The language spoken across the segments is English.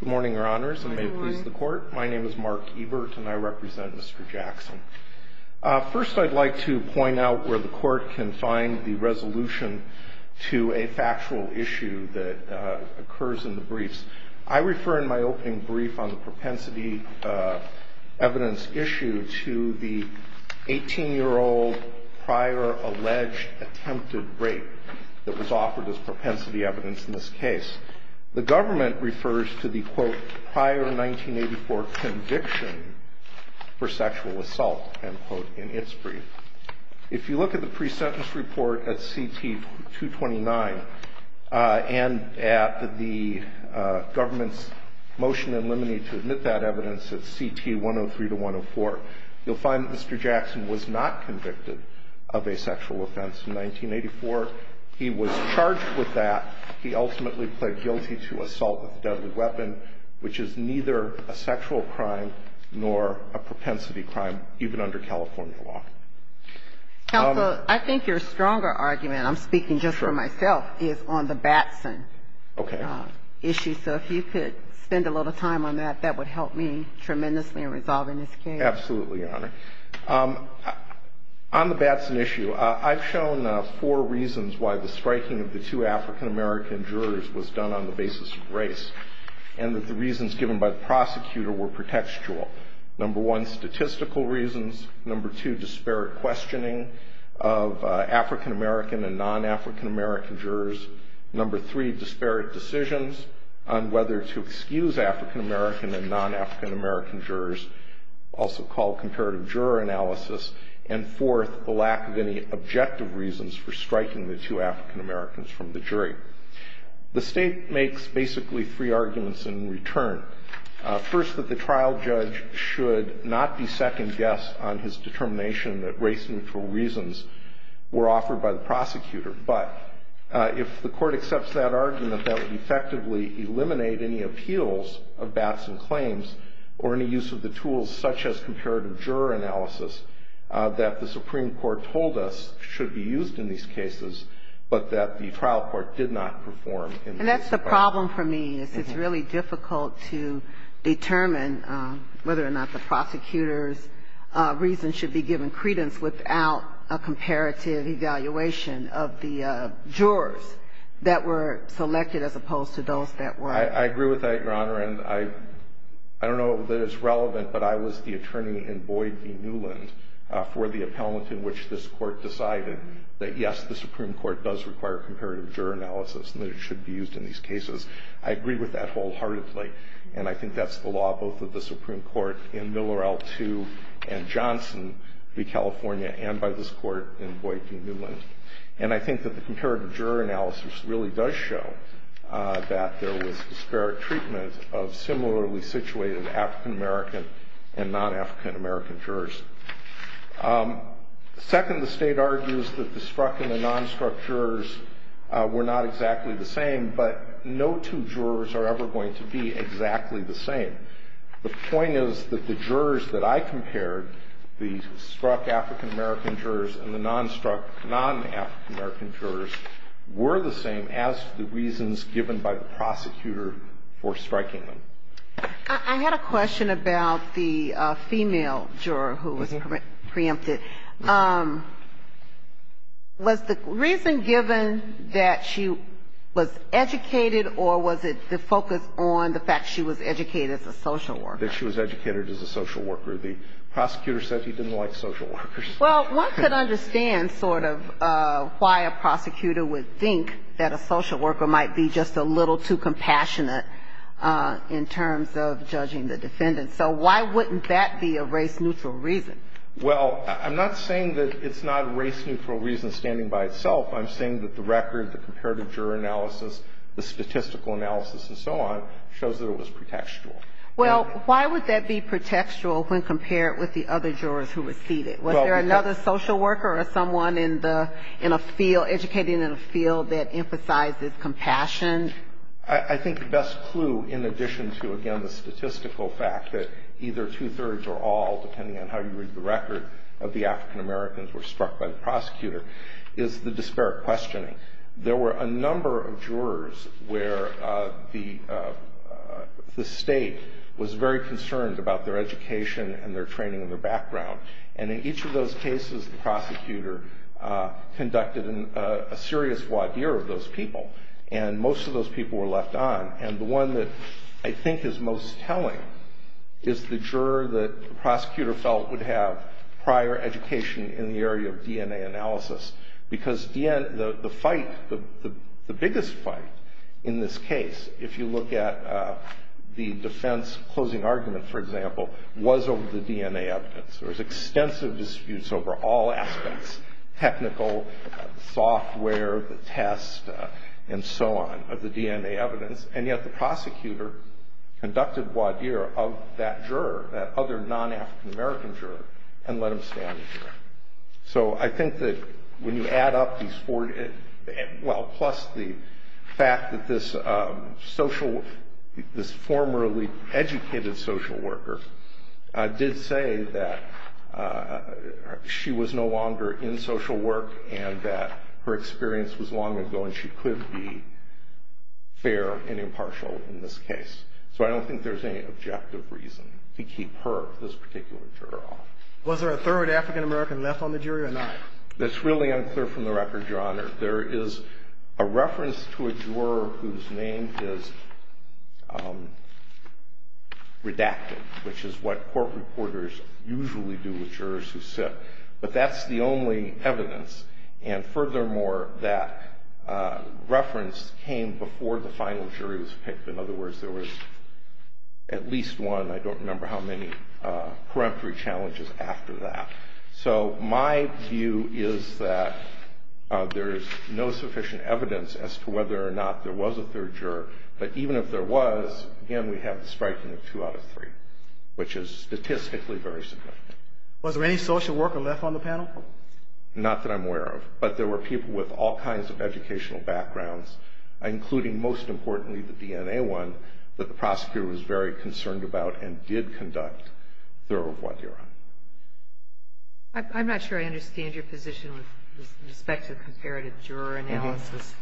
Good morning, Your Honors, and may it please the Court. My name is Mark Ebert, and I represent Mr. Jackson. First, I'd like to point out where the Court can find the resolution to a factual issue that occurs in the briefs. I refer in my opening brief on the propensity evidence issue to the 18-year-old prior alleged attempted rape that was offered as propensity evidence in this case. The government refers to the quote, prior 1984 conviction for sexual assault, end quote, in its brief. If you look at the pre-sentence report at C.T. 229, and at the government's motion in limine to admit that evidence at C.T. 103-104, you'll find that Mr. Jackson was not convicted of a sexual offense in 1984. He was charged with that. He ultimately pled guilty to assault with a deadly weapon, which is neither a sexual crime nor a propensity crime, even under California law. I think your stronger argument, I'm speaking just for myself, is on the Batson issue. Okay. So if you could spend a little time on that, that would help me tremendously in resolving this case. Absolutely, Your Honor. On the Batson issue, I've shown four reasons why the striking of the two African-American jurors was done on the basis of race, and that the reasons given by the prosecutor were pretextual. Number one, statistical reasons. Number two, disparate questioning of African-American and non-African-American jurors. Number three, disparate decisions on whether to excuse African-American and non-African-American jurors. Also called comparative juror analysis. And fourth, the lack of any objective reasons for striking the two African-Americans from the jury. The State makes basically three arguments in return. First, that the trial judge should not be second-guessed on his determination that race-neutral reasons were offered by the prosecutor. But if the Court accepts that argument, that would effectively eliminate any appeals of Batson claims or any use of the tools such as comparative juror analysis that the Supreme Court told us should be used in these cases, but that the trial court did not perform. And that's the problem for me, is it's really difficult to determine whether or not the prosecutor's reasons should be given credence without a comparative evaluation of the jurors that were selected as opposed to those that were not. I agree with that, Your Honor. And I don't know that it's relevant, but I was the attorney in Boyd v. Newland for the appellate in which this Court decided that, yes, the Supreme Court does require comparative juror analysis and that it should be used in these cases. I agree with that wholeheartedly. And I think that's the law both of the Supreme Court in Miller L. II and Johnson v. California and by this Court in Boyd v. Newland. And I think that the comparative juror analysis really does show that there was disparate treatment of similarly situated African-American and non-African-American jurors. Second, the State argues that the struck and the non-struck jurors were not exactly the same, but no two jurors are ever going to be exactly the same. The point is that the jurors that I compared, the struck African-American jurors and the non-struck non-African-American jurors, were the same as the reasons given by the prosecutor for striking them. I had a question about the female juror who was preempted. Was the reason given that she was educated or was it the focus on the fact she was educated as a social worker? That she was educated as a social worker. The prosecutor said she didn't like social workers. Well, one could understand sort of why a prosecutor would think that a social worker might be just a little too compassionate in terms of judging the defendant. So why wouldn't that be a race-neutral reason? Well, I'm not saying that it's not race-neutral reason standing by itself. I'm saying that the record, the comparative juror analysis, the statistical analysis and so on shows that it was pretextual. Well, why would that be pretextual when compared with the other jurors who received it? Was there another social worker or someone in a field, educating in a field that emphasizes compassion? I think the best clue, in addition to, again, the statistical fact that either two-thirds or all, depending on how you read the record, of the African-Americans were struck by the prosecutor, is the disparate questioning. There were a number of jurors where the state was very concerned about their education and their training and their background. And in each of those cases, the prosecutor conducted a serious voir dire of those people. And most of those people were left on. And the one that I think is most telling is the juror that the prosecutor felt would have prior education in the area of DNA analysis. Because the fight, the biggest fight in this case, if you look at the defense closing argument, for example, was over the DNA evidence. There was extensive disputes over all aspects, technical, software, the test, and so on, of the DNA evidence. And yet the prosecutor conducted voir dire of that juror, that other non-African-American juror, and let him stand. So I think that when you add up these four, well, plus the fact that this social, this formerly educated social worker did say that she was no longer in social work and that her experience was long ago and she could be fair and impartial in this case. So I don't think there's any objective reason to keep her, this particular juror, off. Was there a third African-American left on the jury or not? That's really unclear from the record, Your Honor. There is a reference to a juror whose name is redacted, which is what court reporters usually do with jurors who sit. But that's the only evidence. And furthermore, that reference came before the final jury was picked. In other words, there was at least one. I don't remember how many peremptory challenges after that. So my view is that there's no sufficient evidence as to whether or not there was a third juror. But even if there was, again, we have the striking of two out of three, which is statistically very significant. Was there any social worker left on the panel? Not that I'm aware of. But there were people with all kinds of educational backgrounds, including, most importantly, the DNA one, that the prosecutor was very concerned about and did conduct the review on. I'm not sure I understand your position with respect to comparative juror analysis.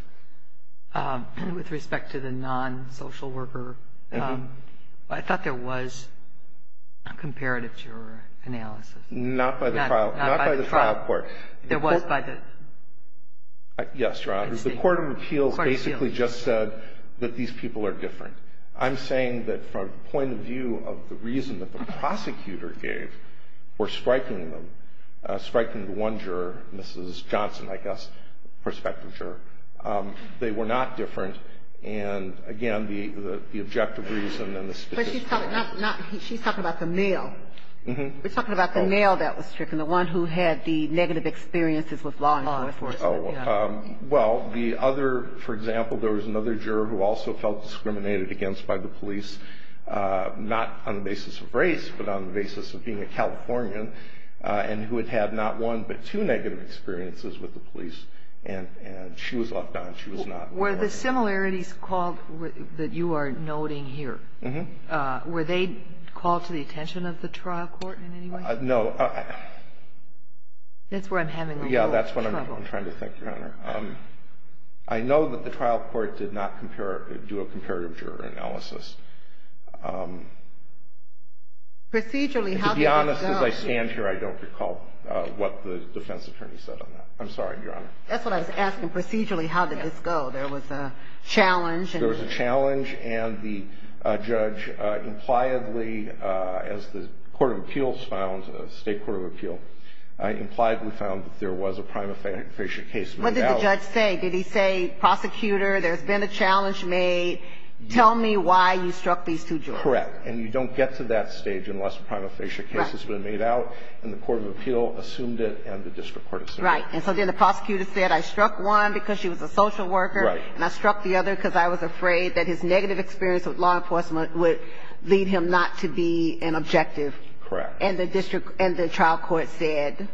With respect to the non-social worker, I thought there was a comparative juror analysis. Not by the trial court. There was by the state court. Yes, Your Honor. The court of appeals basically just said that these people are different. I'm saying that from the point of view of the reason that the prosecutor gave for striking them, I guess, prospective juror. They were not different. And, again, the objective reason and the statistical reason. But she's talking about the male. We're talking about the male that was stricken, the one who had the negative experiences with law enforcement. Oh, of course. Well, the other, for example, there was another juror who also felt discriminated against by the police, not on the basis of race, but on the basis of being a Californian, and who had had not one but two negative experiences with the police. And she was left out. She was not. Were the similarities called that you are noting here, were they called to the attention of the trial court in any way? No. That's where I'm having a little trouble. Yeah, that's what I'm trying to think, Your Honor. I know that the trial court did not do a comparative juror analysis. Procedurally, how did that go? As I stand here, I don't recall what the defense attorney said on that. I'm sorry, Your Honor. That's what I was asking. Procedurally, how did this go? There was a challenge. There was a challenge. And the judge impliedly, as the court of appeals found, State Court of Appeal, impliedly found that there was a prima facie case. What did the judge say? Did he say, prosecutor, there's been a challenge made, tell me why you struck these two jurors? Correct. And you don't get to that stage unless a prima facie case has been made out. Right. And the court of appeal assumed it, and the district court assumed it. Right. And so then the prosecutor said, I struck one because she was a social worker. Right. And I struck the other because I was afraid that his negative experience with law enforcement would lead him not to be an objective. Correct. And the trial court said, okay.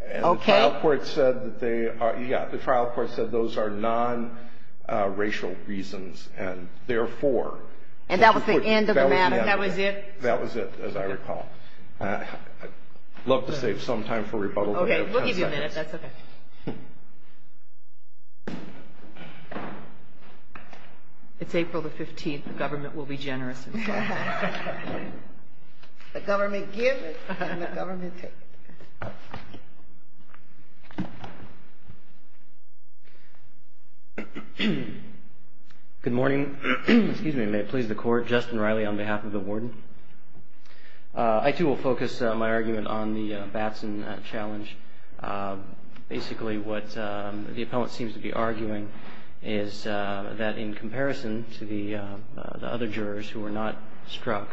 And the trial court said that they are, yeah, the trial court said those are nonracial reasons, and therefore. And that was the end of the matter. That was the end of it. That was it. That was it, as I recall. I'd love to save some time for rebuttal. Okay. We'll give you a minute. That's okay. It's April the 15th. The government will be generous. The government give it, and the government take it. Thank you. Good morning. Excuse me. May it please the court. Justin Riley on behalf of the warden. I, too, will focus my argument on the Batson challenge. Basically, what the appellant seems to be arguing is that in comparison to the other jurors who were not struck,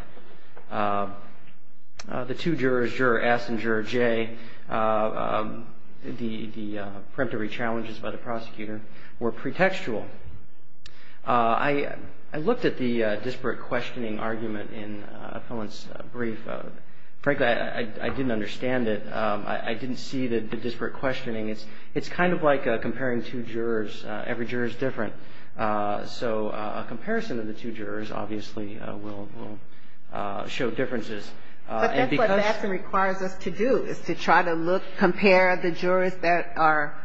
the two jurors, Juror S and Juror J, the preemptory challenges by the prosecutor were pretextual. I looked at the disparate questioning argument in Appellant's brief. Frankly, I didn't understand it. I didn't see the disparate questioning. It's kind of like comparing two jurors. Every juror is different. So a comparison of the two jurors obviously will show differences. But that's what Batson requires us to do is to try to look, compare the jurors that are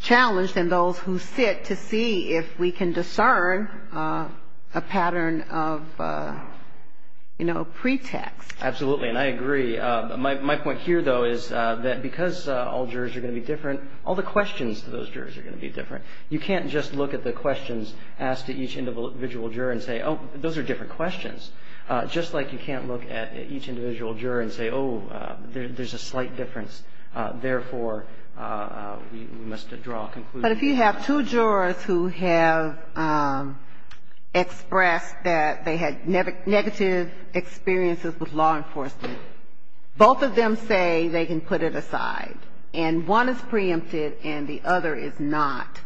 challenged and those who sit to see if we can discern a pattern of, you know, pretext. Absolutely, and I agree. My point here, though, is that because all jurors are going to be different, all the questions to those jurors are going to be different. You can't just look at the questions asked to each individual juror and say, oh, those are different questions. Just like you can't look at each individual juror and say, oh, there's a slight difference, therefore, we must draw a conclusion. But if you have two jurors who have expressed that they had negative experiences with law enforcement, both of them say they can put it aside, and one is preempted and the other is not,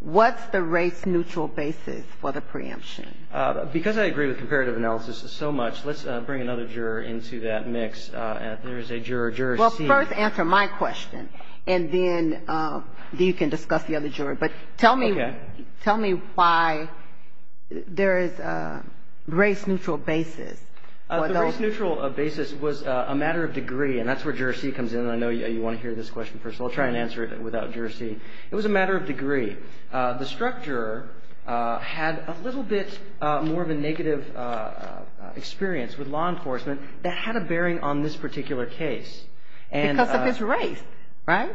what's the race-neutral basis for the preemption? Because I agree with comparative analysis so much, let's bring another juror into that mix. There is a juror, juror C. Well, first answer my question, and then you can discuss the other juror. Okay. But tell me why there is a race-neutral basis. The race-neutral basis was a matter of degree, and that's where juror C. comes in, and I know you want to hear this question first, so I'll try and answer it without juror C. It was a matter of degree. The struck juror had a little bit more of a negative experience with law enforcement that had a bearing on this particular case. Because of his race, right?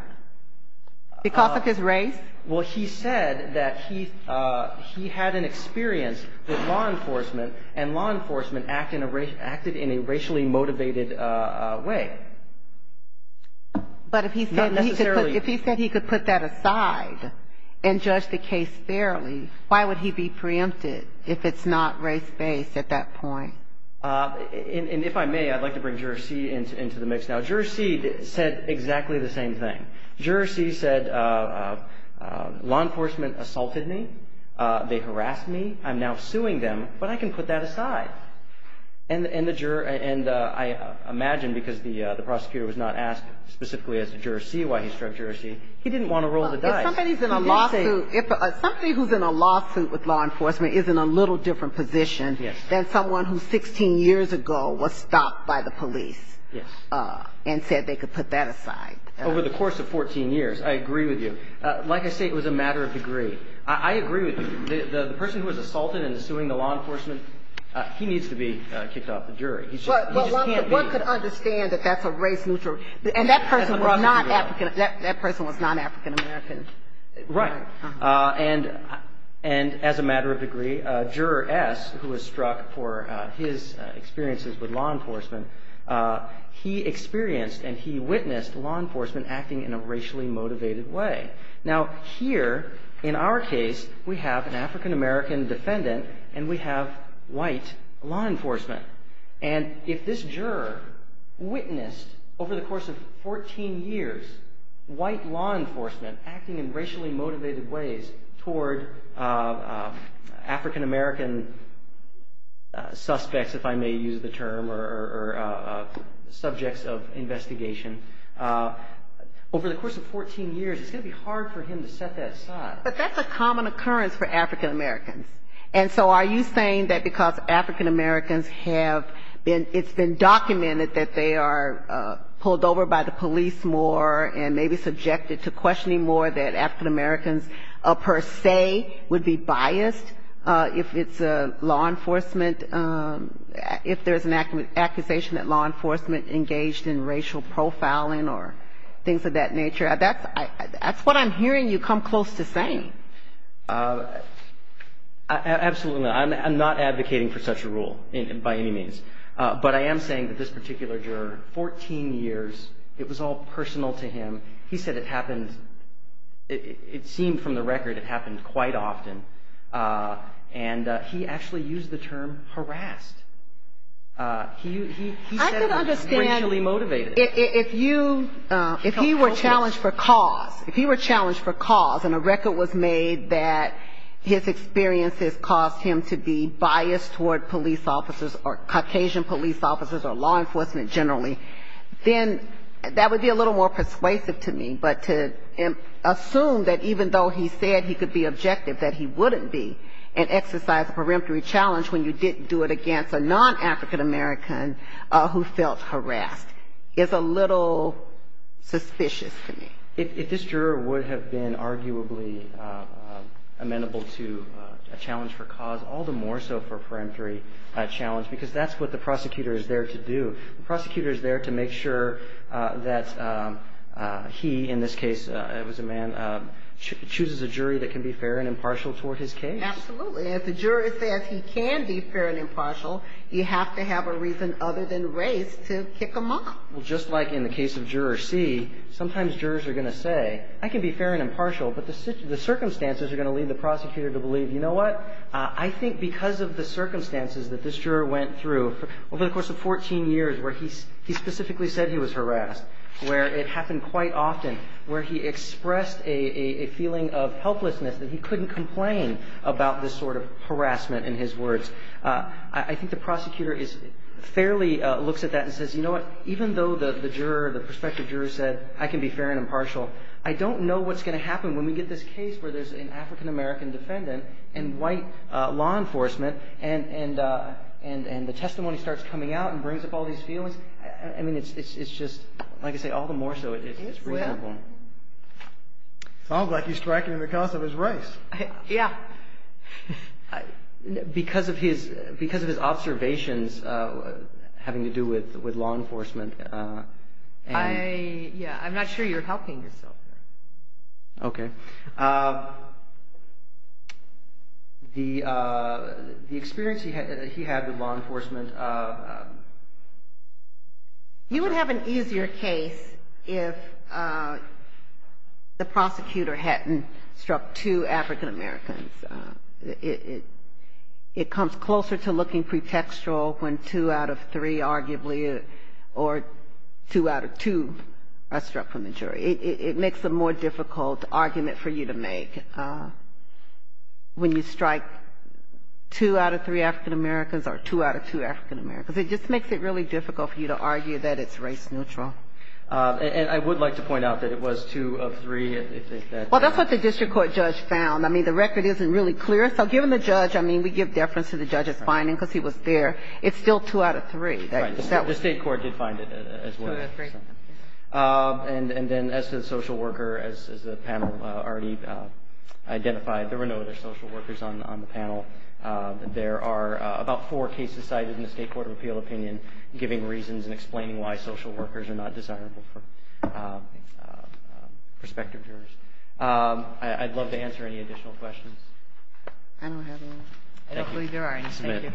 Because of his race? Well, he said that he had an experience with law enforcement, and law enforcement acted in a racially motivated way. Not necessarily. But if he said he could put that aside and judge the case fairly, why would he be preempted if it's not race-based at that point? And if I may, I'd like to bring juror C. into the mix now. Juror C. said exactly the same thing. Juror C. said law enforcement assaulted me. They harassed me. I'm now suing them, but I can put that aside. And I imagine because the prosecutor was not asked specifically as to juror C. why he struck juror C., he didn't want to roll the dice. Somebody who's in a lawsuit with law enforcement is in a little different position than someone who 16 years ago was stopped by the police and said they could put that aside. Over the course of 14 years, I agree with you. Like I say, it was a matter of degree. I agree with you. The person who was assaulted and is suing the law enforcement, he needs to be kicked off the jury. He just can't be. Well, one could understand that that's a race neutral. And that person was not African American. Right. And as a matter of degree, juror S., who was struck for his experiences with law enforcement, he experienced and he witnessed law enforcement acting in a racially motivated way. Now, here in our case, we have an African American defendant and we have white law enforcement. And if this juror witnessed over the course of 14 years white law enforcement acting in racially motivated ways toward African American suspects, if I may use the term, or subjects of investigation, over the course of 14 years, it's going to be hard for him to set that aside. But that's a common occurrence for African Americans. And so are you saying that because African Americans have been, it's been documented that they are pulled over by the police more and maybe subjected to questioning more that African Americans per se would be biased if it's law enforcement, if there's an accusation that law enforcement engaged in racial profiling or things of that nature? That's what I'm hearing you come close to saying. Absolutely not. I'm not advocating for such a rule by any means. But I am saying that this particular juror, 14 years, it was all personal to him. He said it happened, it seemed from the record it happened quite often. And he actually used the term harassed. He said it was racially motivated. If you, if he were challenged for cause, if he were challenged for cause and a record was made that his experiences caused him to be biased toward police officers or Caucasian police officers or law enforcement generally, then that would be a little more persuasive to me. But to assume that even though he said he could be objective, that he wouldn't be and exercise a peremptory challenge when you didn't do it against a non-African American who felt harassed, is a little suspicious to me. If this juror would have been arguably amenable to a challenge for cause, all the more so for a peremptory challenge because that's what the prosecutor is there to do. The prosecutor is there to make sure that he, in this case, it was a man, chooses a jury that can be fair and impartial toward his case. Absolutely. If the juror says he can be fair and impartial, you have to have a reason other than race to kick him off. Well, just like in the case of Juror C, sometimes jurors are going to say, I can be fair and impartial, but the circumstances are going to lead the prosecutor to believe, you know what, I think because of the circumstances that this juror went through over the course of 14 years where he specifically said he was harassed, where it happened quite often, where he expressed a feeling of helplessness that he couldn't complain about this sort of harassment in his words, I think the prosecutor fairly looks at that and says, you know what, even though the juror, the prospective juror said I can be fair and impartial, I don't know what's going to happen when we get this case where there's an African-American defendant and white law enforcement and the testimony starts coming out and brings up all these feelings. I mean, it's just, like I say, all the more so. It's reasonable. Sounds like he's striking him because of his race. Yeah. Because of his observations having to do with law enforcement. Yeah, I'm not sure you're helping yourself there. Okay. The experience he had with law enforcement. You would have an easier case if the prosecutor hadn't struck two African-Americans. It comes closer to looking pretextual when two out of three, arguably, or two out of two are struck from the jury. It makes a more difficult argument for you to make when you strike two out of three African-Americans or two out of two African-Americans. It just makes it really difficult for you to argue that it's race neutral. And I would like to point out that it was two of three. Well, that's what the district court judge found. I mean, the record isn't really clear, so given the judge, I mean, we give deference to the judge's finding because he was there. It's still two out of three. The state court did find it as well. Two out of three. And then as to the social worker, as the panel already identified, there were no other social workers on the panel. There are about four cases cited in the state court of appeal opinion giving reasons and explaining why social workers are not desirable for prospective jurors. I'd love to answer any additional questions. I don't have any. I don't believe there are any. Thank you.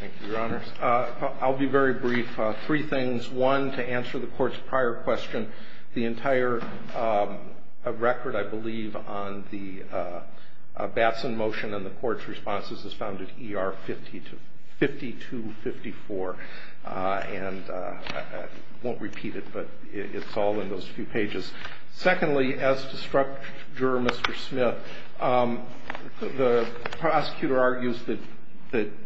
Thank you, Your Honors. I'll be very brief. Three things. One, to answer the court's prior question, the entire record, I believe, on the Batson motion and the court's responses is found at ER 5254. And I won't repeat it, but it's all in those few pages. Secondly, as to struck juror Mr. Smith, the prosecutor argues that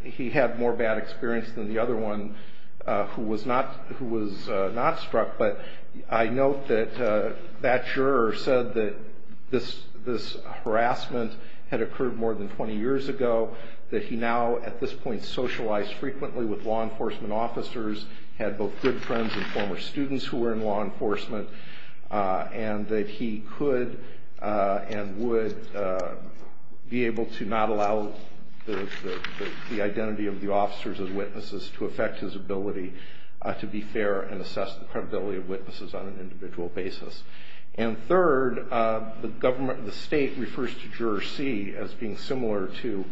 he had more bad experience than the other one who was not struck. But I note that that juror said that this harassment had occurred more than 20 years ago, that he now at this point socialized frequently with law enforcement officers, had both good friends and former students who were in law enforcement, and that he could and would be able to not allow the identity of the officers as witnesses to affect his ability to be fair and assess the credibility of witnesses on an individual basis. And third, the state refers to juror C as being similar to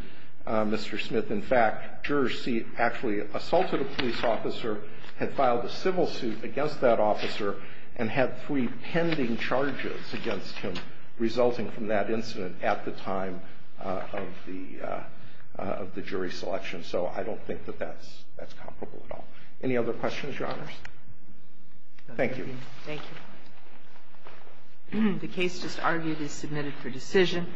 Mr. Smith. In fact, juror C actually assaulted a police officer, had filed a civil suit against that officer, and had three pending charges against him resulting from that incident at the time of the jury selection. So I don't think that that's comparable at all. Any other questions, Your Honors? Thank you. Thank you. The case just argued is submitted for decision.